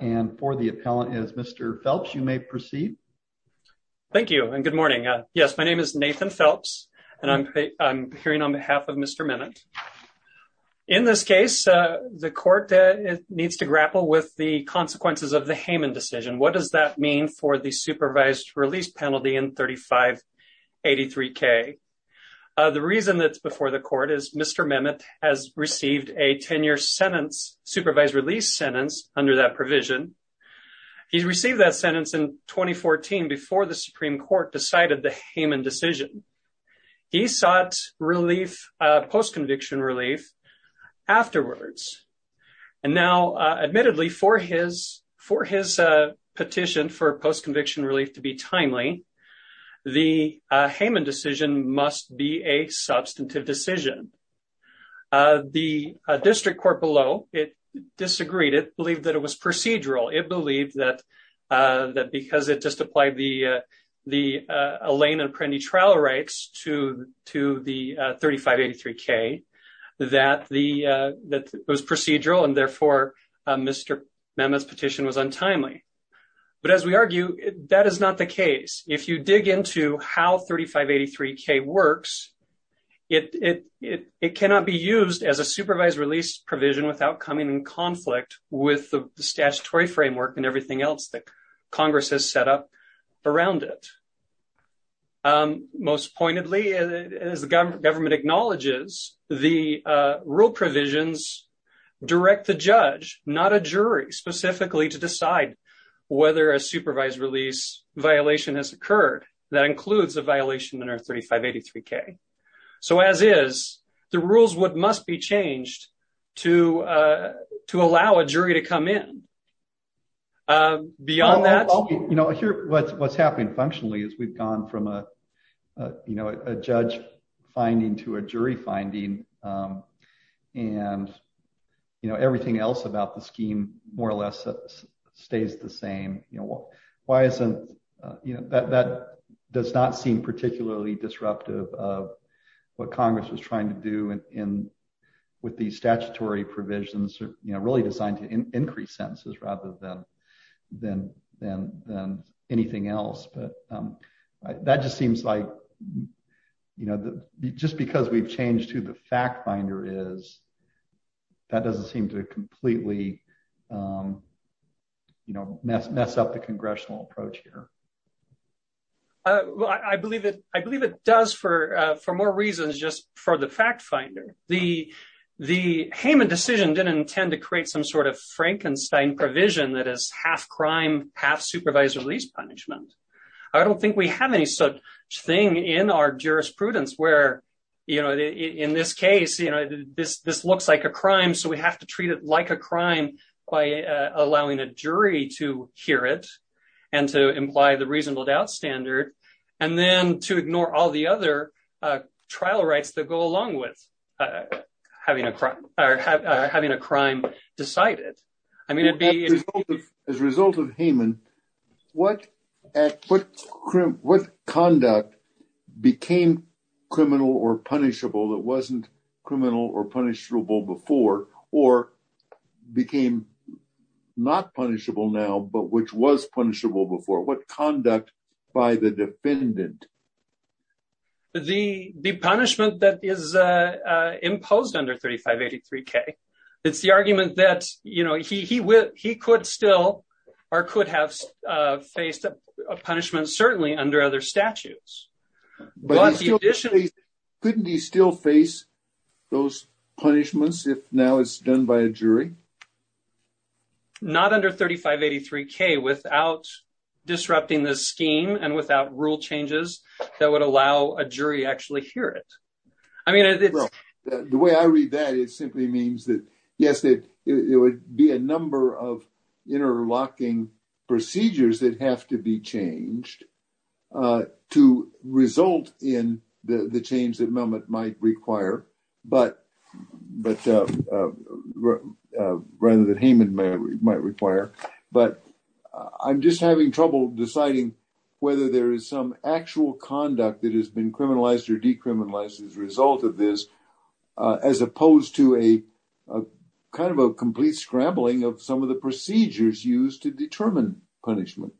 and for the appellant is Mr. Phelps, you may proceed. Thank you and good morning. Yes, my name is Nathan Phelps, and I'm hearing on behalf of Mr. Mennon. In this case, the court needs to grapple with the consequences of the Haman decision. What does that mean for the supervised release penalty in 3583 K. The reason that's before the court is Mr. Mennon has received a 10-year sentence, supervised release sentence under that provision. He's received that sentence in 2014 before the Supreme Court decided the Haman decision. He sought post-conviction relief afterwards. And now, admittedly, for his petition for post-conviction relief to be timely, the Haman decision must be a substantive decision. The district court below, it disagreed. It believed that it was procedural. It believed that because it just applied the Elaine and Prendi trial rights to the 3583 K, that it was procedural and therefore Mr. Mennon's petition was untimely. But as we argue, that is not the case. If you dig into how 3583 K works, it cannot be used as a supervised release provision without coming in conflict with the statutory framework and everything else that Congress has set up around it. Most pointedly, as the government acknowledges, the rule provisions direct the judge, not a jury, specifically to decide whether a supervised release violation has occurred. That includes a violation under 3583 K. So as is, the rules must be changed to allow a jury to come in. Beyond that. You know, here, what's happening functionally is we've gone from a, you know, a judge finding to a jury finding. And, you know, everything else about the scheme, more or less, stays the same. You know, why isn't, you know, that does not seem particularly disruptive of what Congress was trying to do with the statutory provisions, you know, really designed to increase sentences rather than anything else. But that just seems like, you know, just because we've changed to the fact finder is, that doesn't seem to completely, you know, mess up the congressional approach here. I believe it. I believe it does for, for more reasons just for the fact finder, the, the Haman decision didn't intend to create some sort of Frankenstein provision that is half crime half supervised release punishment. I don't think we have any such thing in our jurisprudence where, you know, in this case, you know, this, this looks like a crime so we have to treat it like a crime by allowing a jury to hear it, and to imply the reasonable doubt standard. And then to ignore all the other trial rights that go along with having a crime, or having a crime decided. I mean, it'd be as a result of Haman. What, what, what conduct became criminal or punishable that wasn't criminal or punishable before, or became not punishable now but which was punishable before what conduct by the defendant. The, the punishment that is imposed under 3583 K. It's the argument that, you know, he would he could still, or could have faced a punishment certainly under other statutes, but additionally, couldn't he still face those punishments if now it's done by a jury. Not under 3583 K without disrupting the scheme and without rule changes that would allow a jury actually hear it. I mean, the way I read that it simply means that, yes, that it would be a number of interlocking procedures that have to be changed to result in the the change that moment might require, but, but rather than Haman may might require, but I'm just having trouble deciding whether there is some actual conduct that has been criminalized or decriminalized as a result of this, as opposed to a kind of a complete scrambling of some of the procedures used to determine punishment.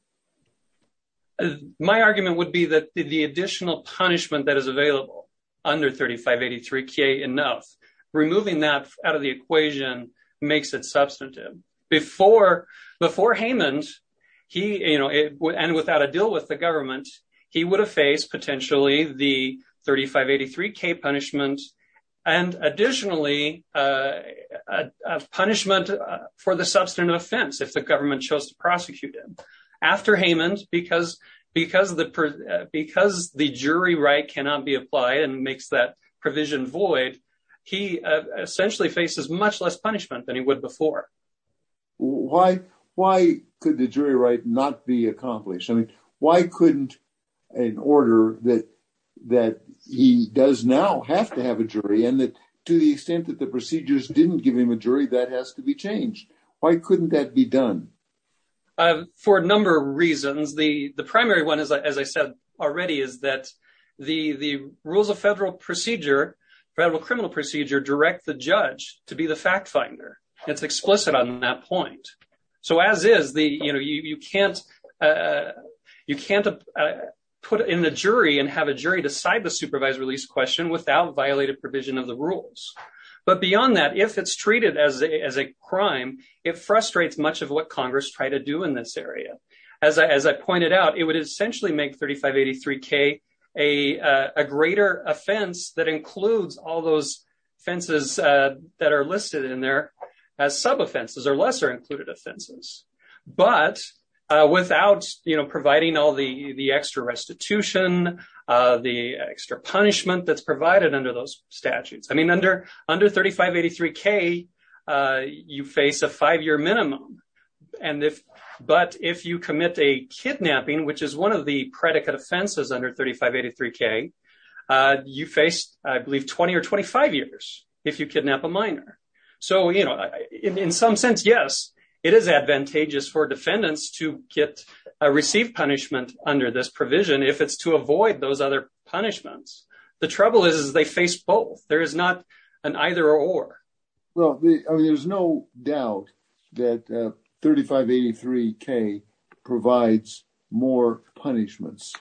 My argument would be that the additional punishment that is available under 3583 K enough, removing that out of the equation, makes it substantive. Before, before Haman's he, you know, and without a deal with the government, he would have faced potentially the 3583 K punishment. And additionally, a punishment for the substantive offense if the government chose to prosecute him after Haman's because, because the, because the jury right cannot be applied and makes that provision void. He essentially faces much less punishment than he would before. Why, why could the jury right not be accomplished. I mean, why couldn't an order that that he does now have to have a jury and that to the extent that the procedures didn't give him a jury that has to be changed. Why couldn't that be done. For a number of reasons, the, the primary one is, as I said already, is that the the rules of federal procedure federal criminal procedure direct the judge to be the fact finder, it's explicit on that point. So as is the, you know, you can't, you can't put in the jury and have a jury decide the supervised release question without violated provision of the rules. But beyond that, if it's treated as a crime, it frustrates much of what Congress try to do in this area, as I as I pointed out, it would essentially make 3583 K, a greater offense that includes all those fences that are listed in there as sub offenses or lesser included offenses, but without, you know, providing all the the extra restitution, the extra punishment that's provided under those statutes I mean under under 3583 K, you face a five year minimum. And if, but if you commit a kidnapping which is one of the predicate offenses under 3583 K. You faced, I believe 20 or 25 years, if you kidnap a minor. So, you know, in some sense, yes, it is advantageous for defendants to get a received punishment under this provision if it's to avoid those other punishments. The trouble is they face both there is not an either or. Well, there's no doubt that 3583 K provides more punishments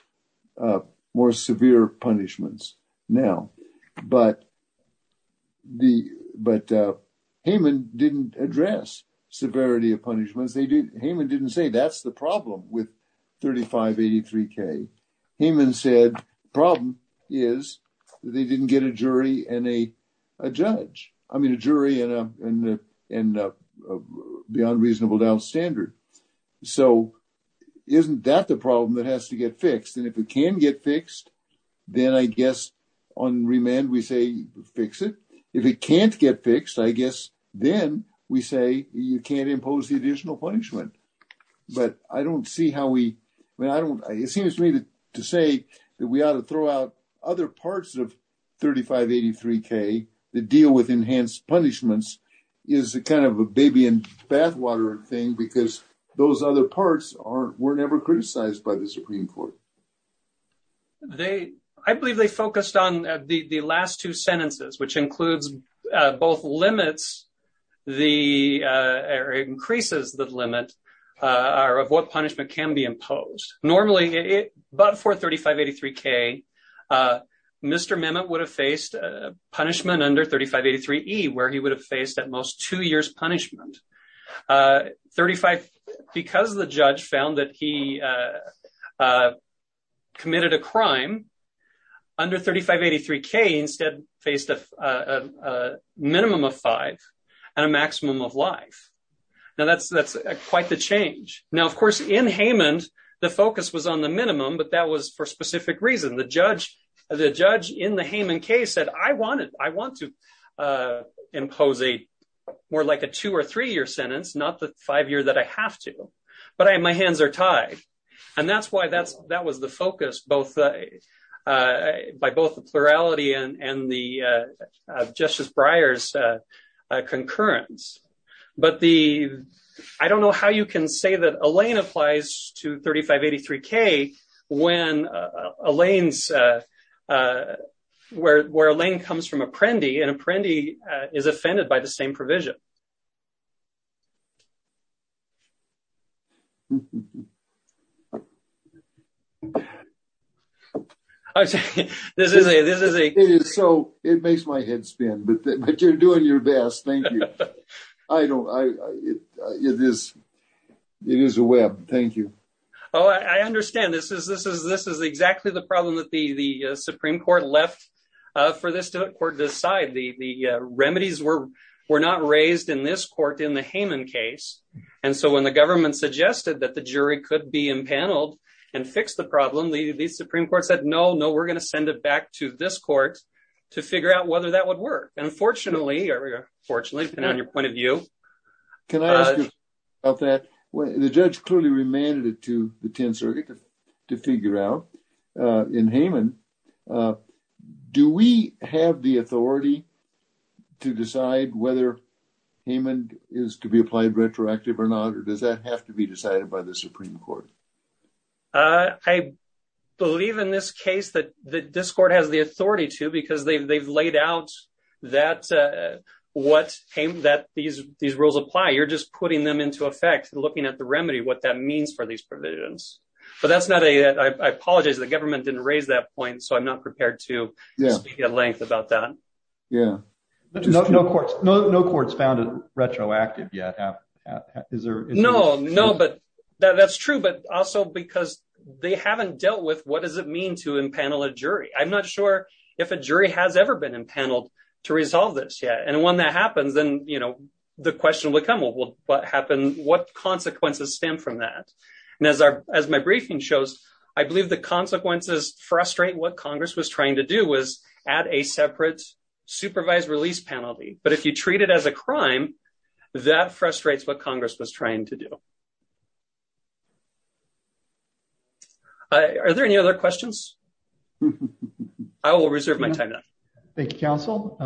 more severe punishments. Now, but the, but Haman didn't address severity of punishments they did. Haman didn't say that's the problem with 3583 K Haman said problem is they didn't get a jury and a judge, I mean a jury and and and beyond reasonable doubt standard. So, isn't that the problem that has to get fixed and if it can get fixed. Then I guess on remand we say, fix it. If it can't get fixed I guess, then we say you can't impose the additional punishment. They, I believe they focused on the last two sentences, which includes both limits. The increases that limit are of what punishment can be imposed normally it but for 3583 K. Mr. Mement would have faced punishment under 3583 E where he would have faced at most two years punishment 35, because the judge found that he committed a crime under 3583 K instead faced a minimum of five and a maximum of life. Now that's that's quite the change. Now of course in Haman, the focus was on the minimum but that was for specific reason the judge, the judge in the Haman case that I wanted, I want to impose a more like a two or three year sentence not the five year that I have to, but I my hands are tied. And that's why that's, that was the focus both by both the plurality and the justice briars concurrence, but the. I don't know how you can say that Elaine applies to 3583 K. When Elaine's where Elaine comes from a trendy and a trendy is offended by the same provision. This is a this is a so it makes my head spin but you're doing your best thing. I don't I it is. It is a web. Thank you. Oh, I understand this is this is this is exactly the problem that the the Supreme Court left for this to court decide the remedies were were not raised in this court in the Haman case. And so when the government suggested that the jury could be impaneled and fix the problem the Supreme Court said no no we're going to send it back to this court to figure out whether that would work. Unfortunately, on your point of view. Can I ask you about that when the judge clearly remanded it to the 10th circuit to figure out in Haman. Do we have the authority to decide whether Haman is to be applied retroactive or not or does that have to be decided by the Supreme Court. I believe in this case that the discord has the authority to because they've they've laid out that what came that these, these rules apply you're just putting them into effect and looking at the remedy what that means for these provisions. But that's not a I apologize the government didn't raise that point so I'm not prepared to speak at length about that. Yeah. No courts found it retroactive yet. No, no, but that's true but also because they haven't dealt with what does it mean to impanel a jury I'm not sure if a jury has ever been impaneled to resolve this yet and when that happens then you know the question will become what will happen, what consequences stem from that. And as our, as my briefing shows, I believe the consequences frustrate what Congress was trying to do was add a separate supervised release penalty, but if you treat it as a crime that frustrates what Congress was trying to do. Are there any other questions. I will reserve my time. Thank you counsel.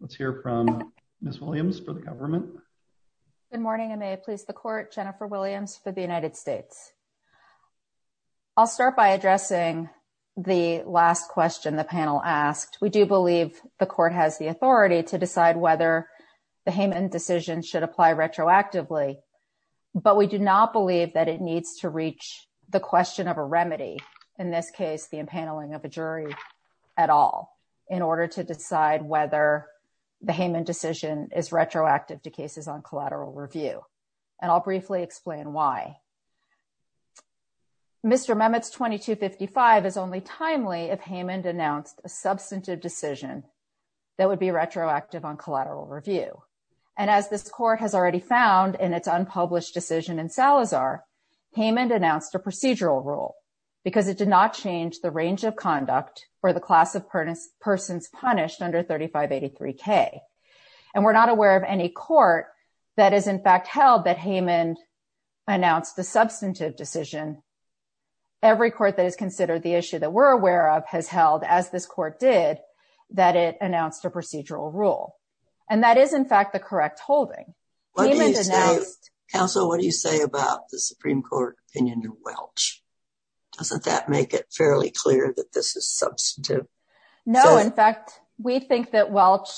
Let's hear from Miss Williams for the government. Good morning and may please the court Jennifer Williams for the United States. I'll start by addressing the last question the panel asked, we do believe the court has the authority to decide whether the Haman decision should apply retroactively, but we do not believe that it needs to reach the question of a remedy. In this case the impaneling of a jury at all. In order to decide whether the Haman decision is retroactive to cases on collateral review, and I'll briefly explain why. Mr memos 2255 is only timely if Haman announced a substantive decision that would be retroactive on collateral review. And as this court has already found and it's unpublished decision and Salazar payment announced a procedural rule, because it did not change the range of conduct for the class of persons punished under 3583 K. And we're not aware of any court that is in fact held that Haman announced the substantive decision. Every court that is considered the issue that we're aware of has held as this court did that it announced a procedural rule. And that is in fact the correct holding. So what do you say about the Supreme Court opinion to Welch. Doesn't that make it fairly clear that this is substantive. No, in fact, we think that Welch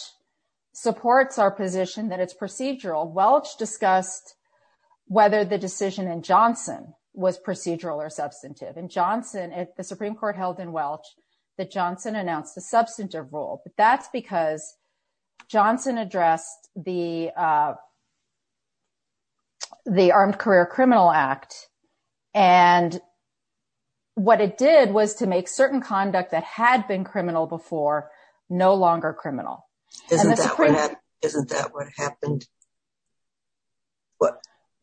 supports our position that it's procedural Welch discussed whether the decision and Johnson was procedural or substantive and Johnson at the Supreme Court held in Welch that Johnson announced the substantive role, but that's because Johnson addressed the, the armed career criminal act. And what it did was to make certain conduct that had been criminal before no longer criminal. Isn't that what happened.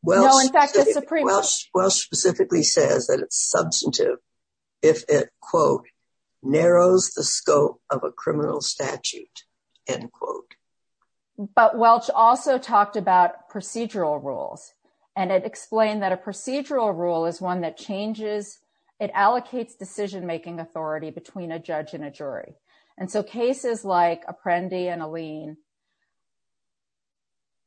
Well, in fact, the Supreme Court specifically says that it's substantive. If it quote narrows the scope of a criminal statute, end quote, but Welch also talked about procedural rules, and it explained that a procedural rule is one that changes it allocates decision making authority between a judge and a jury. And so cases like Apprendi and Alene.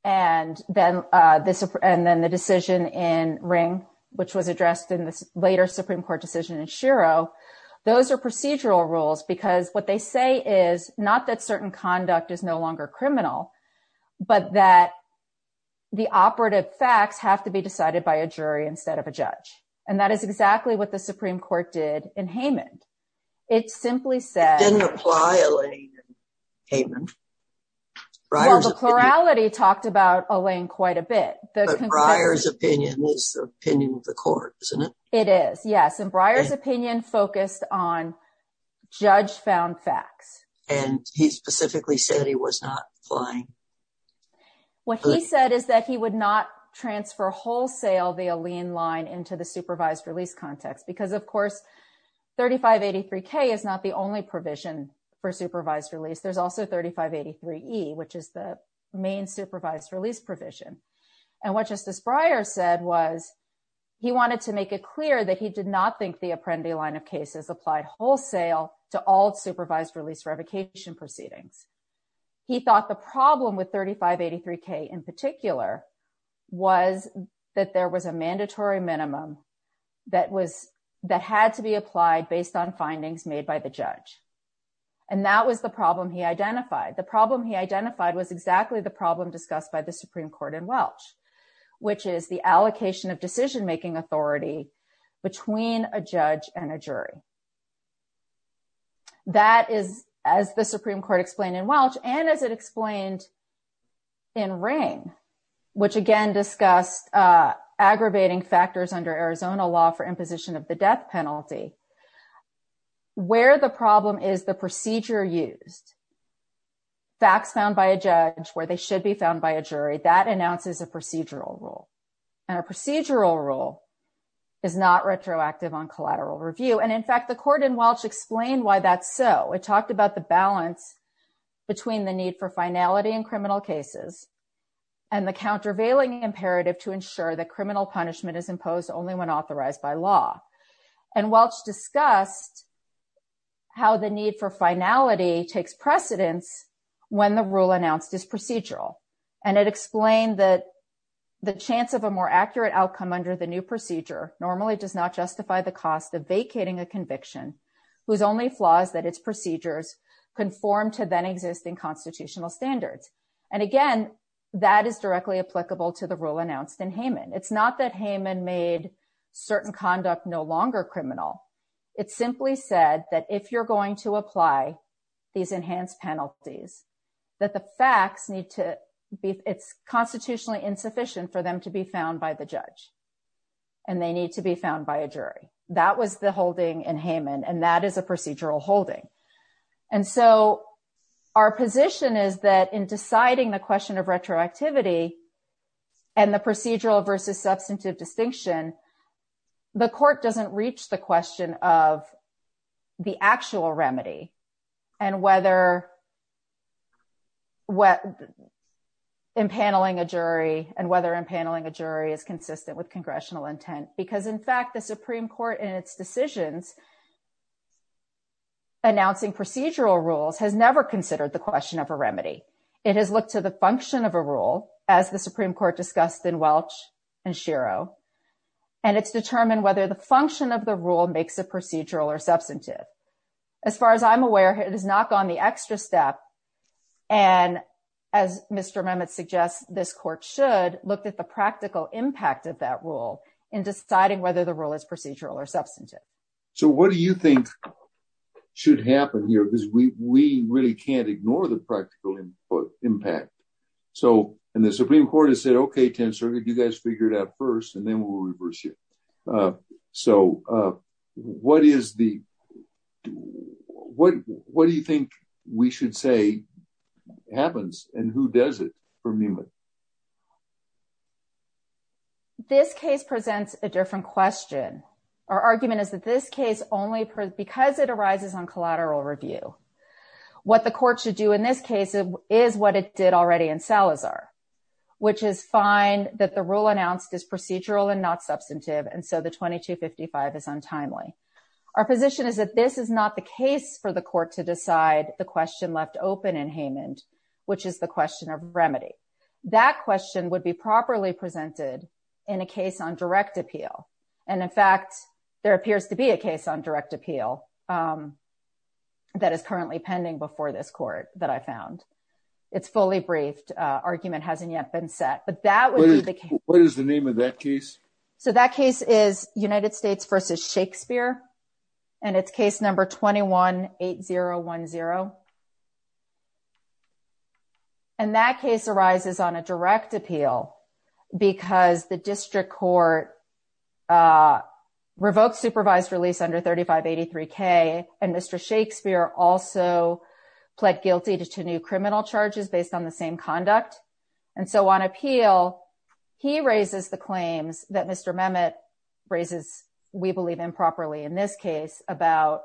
And then this and then the decision in ring, which was addressed in this later Supreme Court decision in Shiro. Those are procedural rules because what they say is not that certain conduct is no longer criminal, but that the operative facts have to be decided by a jury instead of a judge. And that is exactly what the Supreme Court did in Haman. It simply said didn't apply. Haman. Priority talked about a lane quite a bit. Briar's opinion is the opinion of the court, isn't it? It is. Yes. And Briar's opinion focused on judge found facts. And he specifically said he was not flying. What he said is that he would not transfer wholesale the Alene line into the supervised release context because, of course, 3583 K is not the only provision for supervised release. There's also 3583 E, which is the main supervised release provision. And what Justice Breyer said was he wanted to make it clear that he did not think the Apprendi line of cases applied wholesale to all supervised release revocation proceedings. He thought the problem with 3583 K in particular was that there was a mandatory minimum that was that had to be applied based on findings made by the judge. And that was the problem he identified. The problem he identified was exactly the problem discussed by the Supreme Court in Welch, which is the allocation of decision making authority between a judge and a jury. That is, as the Supreme Court explained in Welch and as it explained. In rain, which again discussed aggravating factors under Arizona law for imposition of the death penalty. Where the problem is the procedure used. Facts found by a judge where they should be found by a jury that announces a procedural rule and a procedural rule is not retroactive on collateral review. And in fact, the court in Welch explained why that's so it talked about the balance between the need for finality and criminal cases. And the countervailing imperative to ensure that criminal punishment is imposed only when authorized by law and Welch discussed. How the need for finality takes precedence when the rule announced is procedural and it explained that. The chance of a more accurate outcome under the new procedure normally does not justify the cost of vacating a conviction. Whose only flaws that it's procedures conform to then existing constitutional standards. And again, that is directly applicable to the rule announced in Haman. It's not that Haman made certain conduct no longer criminal. It simply said that if you're going to apply these enhanced penalties that the facts need to be it's constitutionally insufficient for them to be found by the judge. And they need to be found by a jury. That was the holding in Haman and that is a procedural holding. And so our position is that in deciding the question of retroactivity and the procedural versus substantive distinction. The court doesn't reach the question of the actual remedy and whether What Impaneling a jury and whether impaneling a jury is consistent with congressional intent, because in fact, the Supreme Court in its decisions. Announcing procedural rules has never considered the question of a remedy. It has looked to the function of a rule as the Supreme Court discussed in Welch and Shiro. And it's determined whether the function of the rule makes a procedural or substantive. As far as I'm aware, it has not gone the extra step. And as Mr. Mamet suggests this court should look at the practical impact of that rule in deciding whether the rule is procedural or substantive. So what do you think should happen here because we really can't ignore the practical impact. So, and the Supreme Court has said okay tensor. Did you guys figure it out first and then we'll reverse it. So what is the What, what do you think we should say happens and who does it for me. This case presents a different question. Our argument is that this case only because it arises on collateral review. What the court should do in this case is what it did already in Salazar, which is fine that the rule announced is procedural and not substantive. And so the 2255 is untimely Our position is that this is not the case for the court to decide the question left open and Haman, which is the question of remedy that question would be properly presented in a case on direct appeal. And in fact, there appears to be a case on direct appeal. That is currently pending before this court that I found it's fully briefed argument hasn't yet been set, but that What is the name of that case. So that case is United States versus Shakespeare and it's case number 218010 And that case arises on a direct appeal because the district court. revoked supervised release under 3583 K and Mr. Shakespeare also pled guilty to two new criminal charges based on the same conduct. And so on appeal. He raises the claims that Mr. Mehmet raises we believe improperly in this case about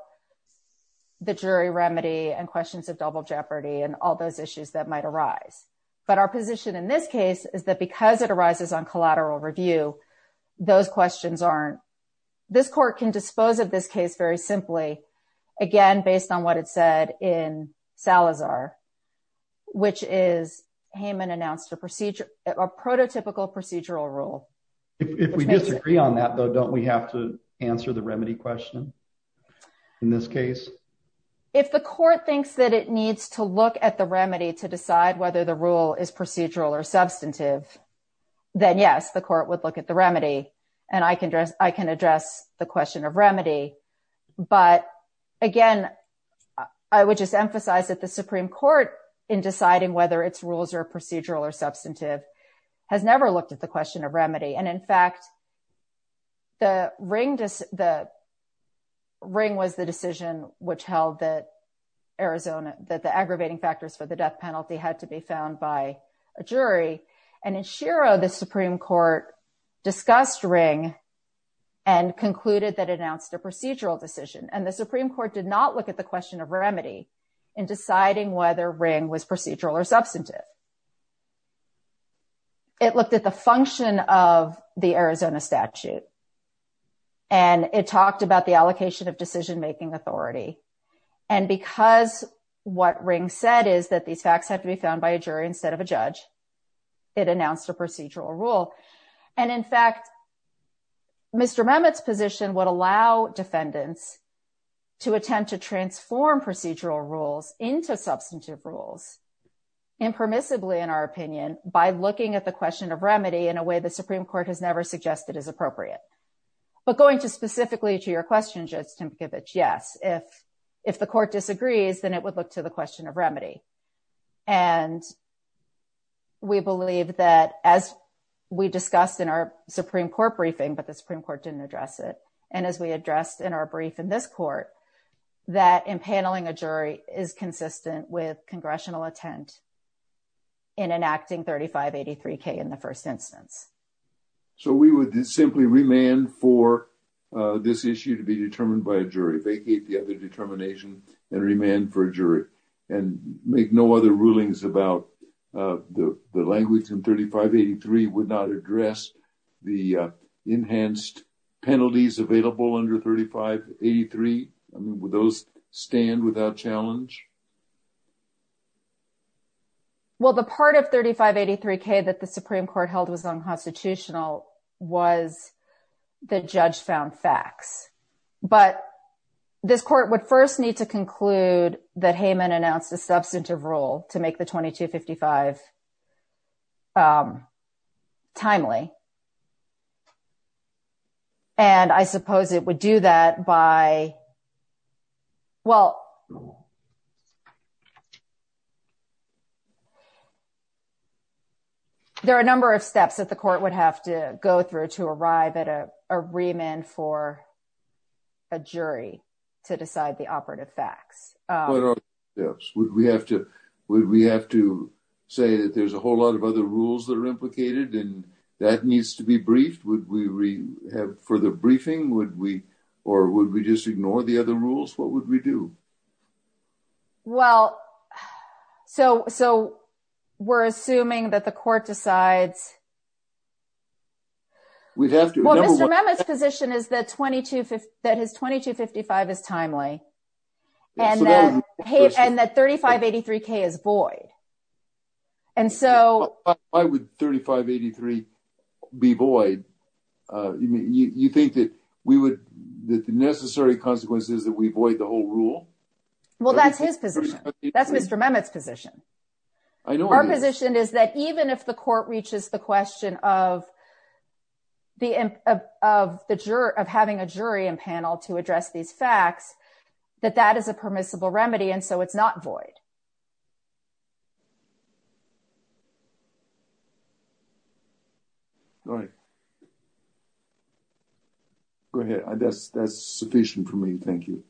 The jury remedy and questions of double jeopardy and all those issues that might arise, but our position in this case is that because it arises on collateral review. Those questions aren't this court can dispose of this case, very simply, again, based on what it said in Salazar, which is Haman announced a procedure or prototypical procedural rule. If we disagree on that, though, don't we have to answer the remedy question. In this case, if the court thinks that it needs to look at the remedy to decide whether the rule is procedural or substantive Then yes, the court would look at the remedy and I can address. I can address the question of remedy. But again, I would just emphasize that the Supreme Court in deciding whether its rules are procedural or substantive has never looked at the question of remedy and in fact The ring. The ring was the decision which held that Arizona that the aggravating factors for the death penalty had to be found by a jury and ensure the Supreme Court discussed ring. And concluded that announced a procedural decision and the Supreme Court did not look at the question of remedy in deciding whether ring was procedural or substantive It looked at the function of the Arizona statute. And it talked about the allocation of decision making authority and because what ring said is that these facts have to be found by a jury instead of a judge. It announced a procedural rule and in fact Mr. Mehmet's position would allow defendants to attend to transform procedural rules into substantive rules. Impermissibly, in our opinion, by looking at the question of remedy in a way the Supreme Court has never suggested is appropriate, but going to specifically to your question just to give it. Yes. If, if the court disagrees, then it would look to the question of remedy and We believe that as we discussed in our Supreme Court briefing, but the Supreme Court didn't address it. And as we addressed in our brief in this court that in paneling a jury is consistent with congressional attempt In enacting 3583 K in the first instance. So we would simply remand for this issue to be determined by a jury vacate the other determination and remand for jury and make no other rulings about the language and 3583 would not address the enhanced penalties available under 3583 with those stand without challenge. Well, the part of 3583 K that the Supreme Court held was unconstitutional was the judge found facts, but this court would first need to conclude that Heyman announced a substantive role to make the 2255 Timely. And I suppose it would do that by Well, There are a number of steps that the court would have to go through to arrive at a remand for A jury to decide the operative facts. Would we have to would we have to say that there's a whole lot of other rules that are implicated and that needs to be briefed. Would we have for the briefing. Would we or would we just ignore the other rules. What would we do Well, so, so we're assuming that the court decides We'd have to remember what his position is that 22 that his 2255 is timely. And then, hey, and that 3583 K is void. And so I would 3583 be void. You think that we would that the necessary consequences that we avoid the whole rule. Well, that's his position. That's Mr. Mehmet's position. I know our position is that even if the court reaches the question of The of the juror of having a jury and panel to address these facts that that is a permissible remedy. And so it's not void. Right. Go ahead. I guess that's sufficient for me. Thank you.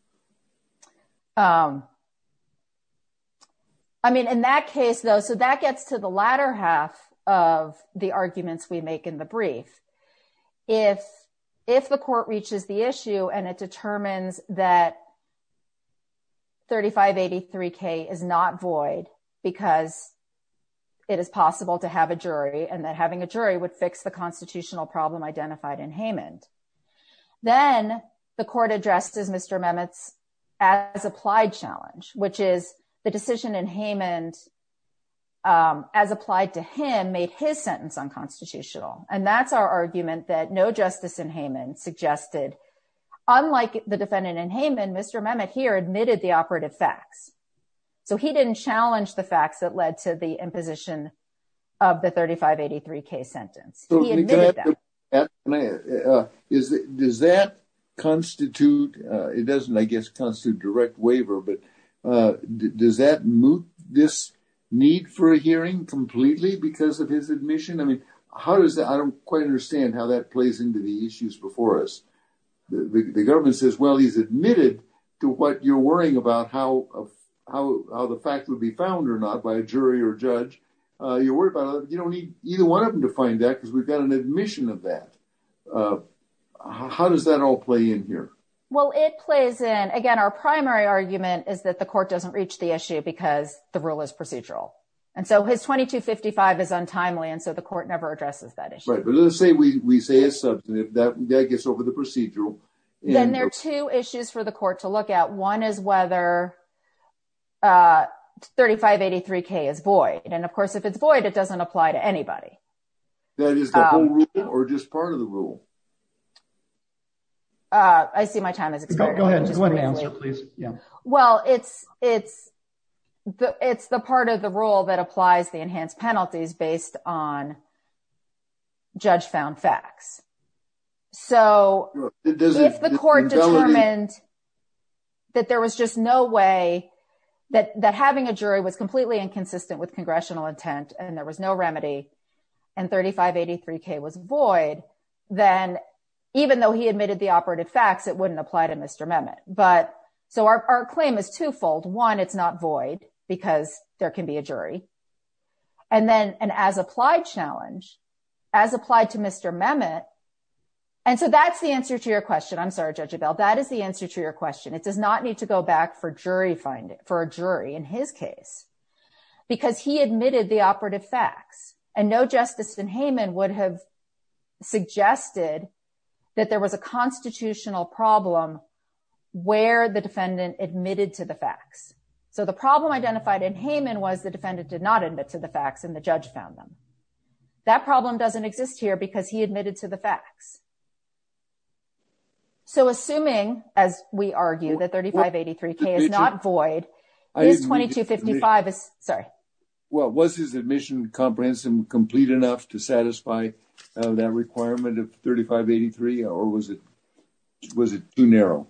I mean, in that case, though, so that gets to the latter half of the arguments we make in the brief if if the court reaches the issue and it determines that 3583 K is not void because it is possible to have a jury and that having a jury would fix the constitutional problem identified in Haman. Then the court addresses. Mr. Mehmet's as applied challenge, which is the decision and Haman As applied to him made his sentence unconstitutional. And that's our argument that no justice in Haman suggested, unlike the defendant in Haman. Mr. Mehmet here admitted the operative facts. So he didn't challenge the facts that led to the imposition of the 3583 K sentence. Is it does that constitute it doesn't, I guess, constitute direct waiver, but Does that move this need for a hearing completely because of his admission. I mean, how does that I don't quite understand how that plays into the issues before us. The government says, well, he's admitted to what you're worrying about how how the fact will be found or not by a jury or judge You're worried about you don't need either one of them to find that because we've got an admission of that. How does that all play in here. Well, it plays in. Again, our primary argument is that the court doesn't reach the issue because the rule is procedural and so his 2255 is untimely. And so the court never addresses that issue. Right. But let's say we say is that that gets over the procedural Then there are two issues for the court to look at. One is whether 3583 K is void. And of course, if it's void. It doesn't apply to anybody. Or just part of the rule. I see my time is Yeah, well, it's, it's the, it's the part of the rule that applies the enhanced penalties based on Judge found facts so If the court determined That there was just no way that that having a jury was completely inconsistent with congressional intent and there was no remedy and 3583 K was void. Then, even though he admitted the operative facts, it wouldn't apply to Mr. Mehmet. But so our claim is twofold. One, it's not void because there can be a jury. And then, and as applied challenge as applied to Mr. Mehmet And so that's the answer to your question. I'm sorry, judge about that is the answer to your question. It does not need to go back for jury finding for a jury in his case. Because he admitted the operative facts and no justice in Haman would have suggested that there was a constitutional problem. Where the defendant admitted to the facts. So the problem identified in Haman was the defendant did not admit to the facts and the judge found them. That problem doesn't exist here because he admitted to the facts. So, assuming as we argue that 3583 K is not void is 2255 is sorry. Well, was his admission comprehensive complete enough to satisfy that requirement of 3583 or was it was it too narrow.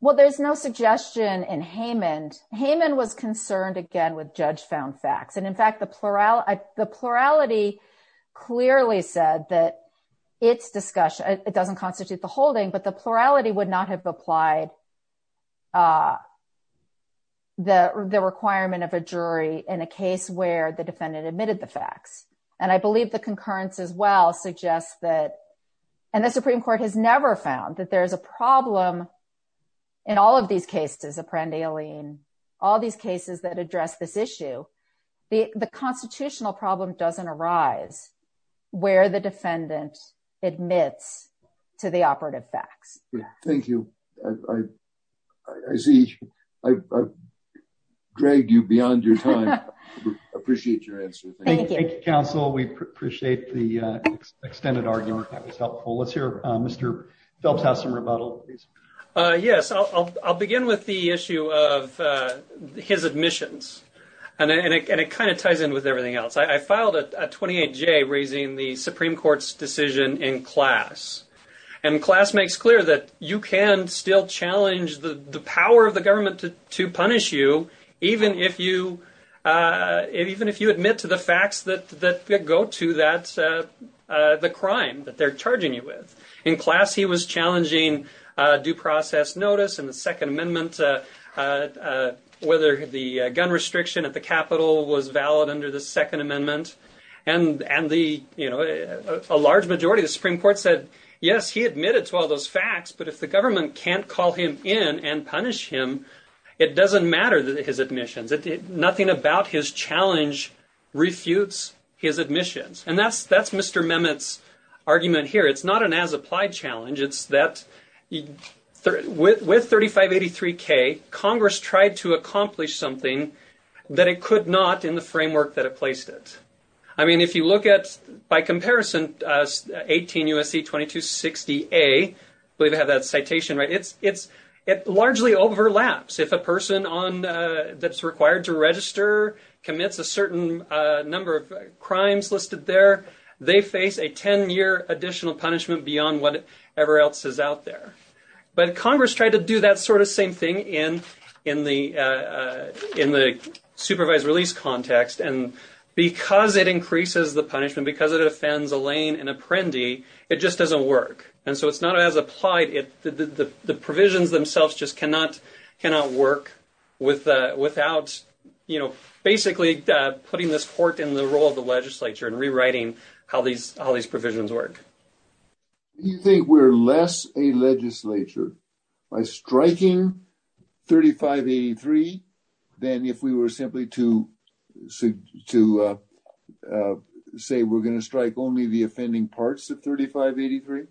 Well, there's no suggestion in Haman Haman was concerned again with judge found facts. And in fact, the plurality, the plurality clearly said that it's discussion. It doesn't constitute the holding, but the plurality would not have applied. The requirement of a jury in a case where the defendant admitted the facts and I believe the concurrence as well suggests that and the Supreme Court has never found that there's a problem. In all of these cases a friend alien all these cases that address this issue. The, the constitutional problem doesn't arise where the defendant admits to the operative facts. Thank you. I see, I dragged you beyond your time. Appreciate your answer. Thank you. Thank you, counsel. We appreciate the extended argument. That was helpful. Let's hear. Mr. Phelps has some rebuttal. Yes, I'll begin with the issue of his admissions and it kind of ties in with everything else. I filed a 28 J raising the Supreme Court's decision in class and class makes clear that you can still challenge the power of the government to punish you. Even if you, even if you admit to the facts that that go to that, the crime that they're charging you with in class, he was challenging due process notice and the Second Amendment, whether the gun restriction at the Capitol was valid under the Second Amendment. And, and the, you know, a large majority of the Supreme Court said, yes, he admitted to all those facts. But if the government can't call him in and punish him, it doesn't matter that his admissions, nothing about his challenge refutes his admissions. And that's, that's Mr. Mehmet's argument here. It's not an as-applied challenge. It's that with 3583K, Congress tried to accomplish something that it could not in the framework that it placed it. I mean, if you look at, by comparison, 18 U.S.C. 2260A, I believe I have that citation right, it's, it's, it largely overlaps. If a person on, that's required to register commits a certain number of crimes listed there, they face a 10-year additional punishment beyond whatever else is out there. But Congress tried to do that sort of same thing in, in the, in the supervised release context. And because it increases the punishment, because it offends a lane, an apprendee, it just doesn't work. And so it's not as applied. The provisions themselves just cannot, cannot work without, without, you know, basically putting this court in the role of the legislature and rewriting how these, how these provisions work. You think we're less a legislature by striking 3583 than if we were simply to, to say we're going to strike only the offending parts of 3583?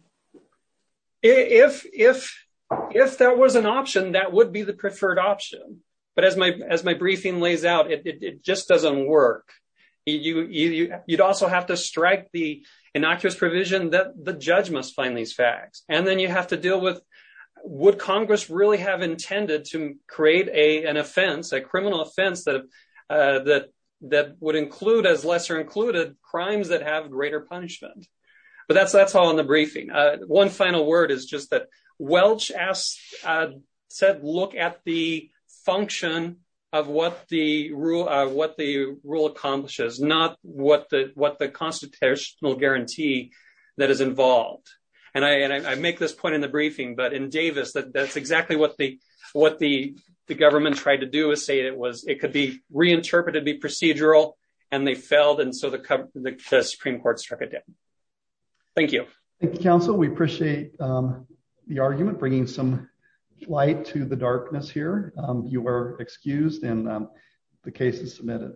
If, if, if there was an option, that would be the preferred option. But as my, as my briefing lays out, it just doesn't work. You, you'd also have to strike the innocuous provision that the judge must find these facts, and then you have to deal with would Congress really have intended to create a, an offense, a criminal offense that, that, that would include as lesser included crimes that have greater punishment. But that's, that's all in the briefing. One final word is just that Welch asked, said, look at the function of what the rule, what the rule accomplishes, not what the, what the constitutional guarantee that is involved. And I make this point in the briefing but in Davis that that's exactly what the, what the government tried to do is say it was, it could be reinterpreted be procedural, and they failed and so the Supreme Court struck it down. Thank you. Thank you, counsel, we appreciate the argument bringing some light to the darkness here. You were excused and the case is submitted.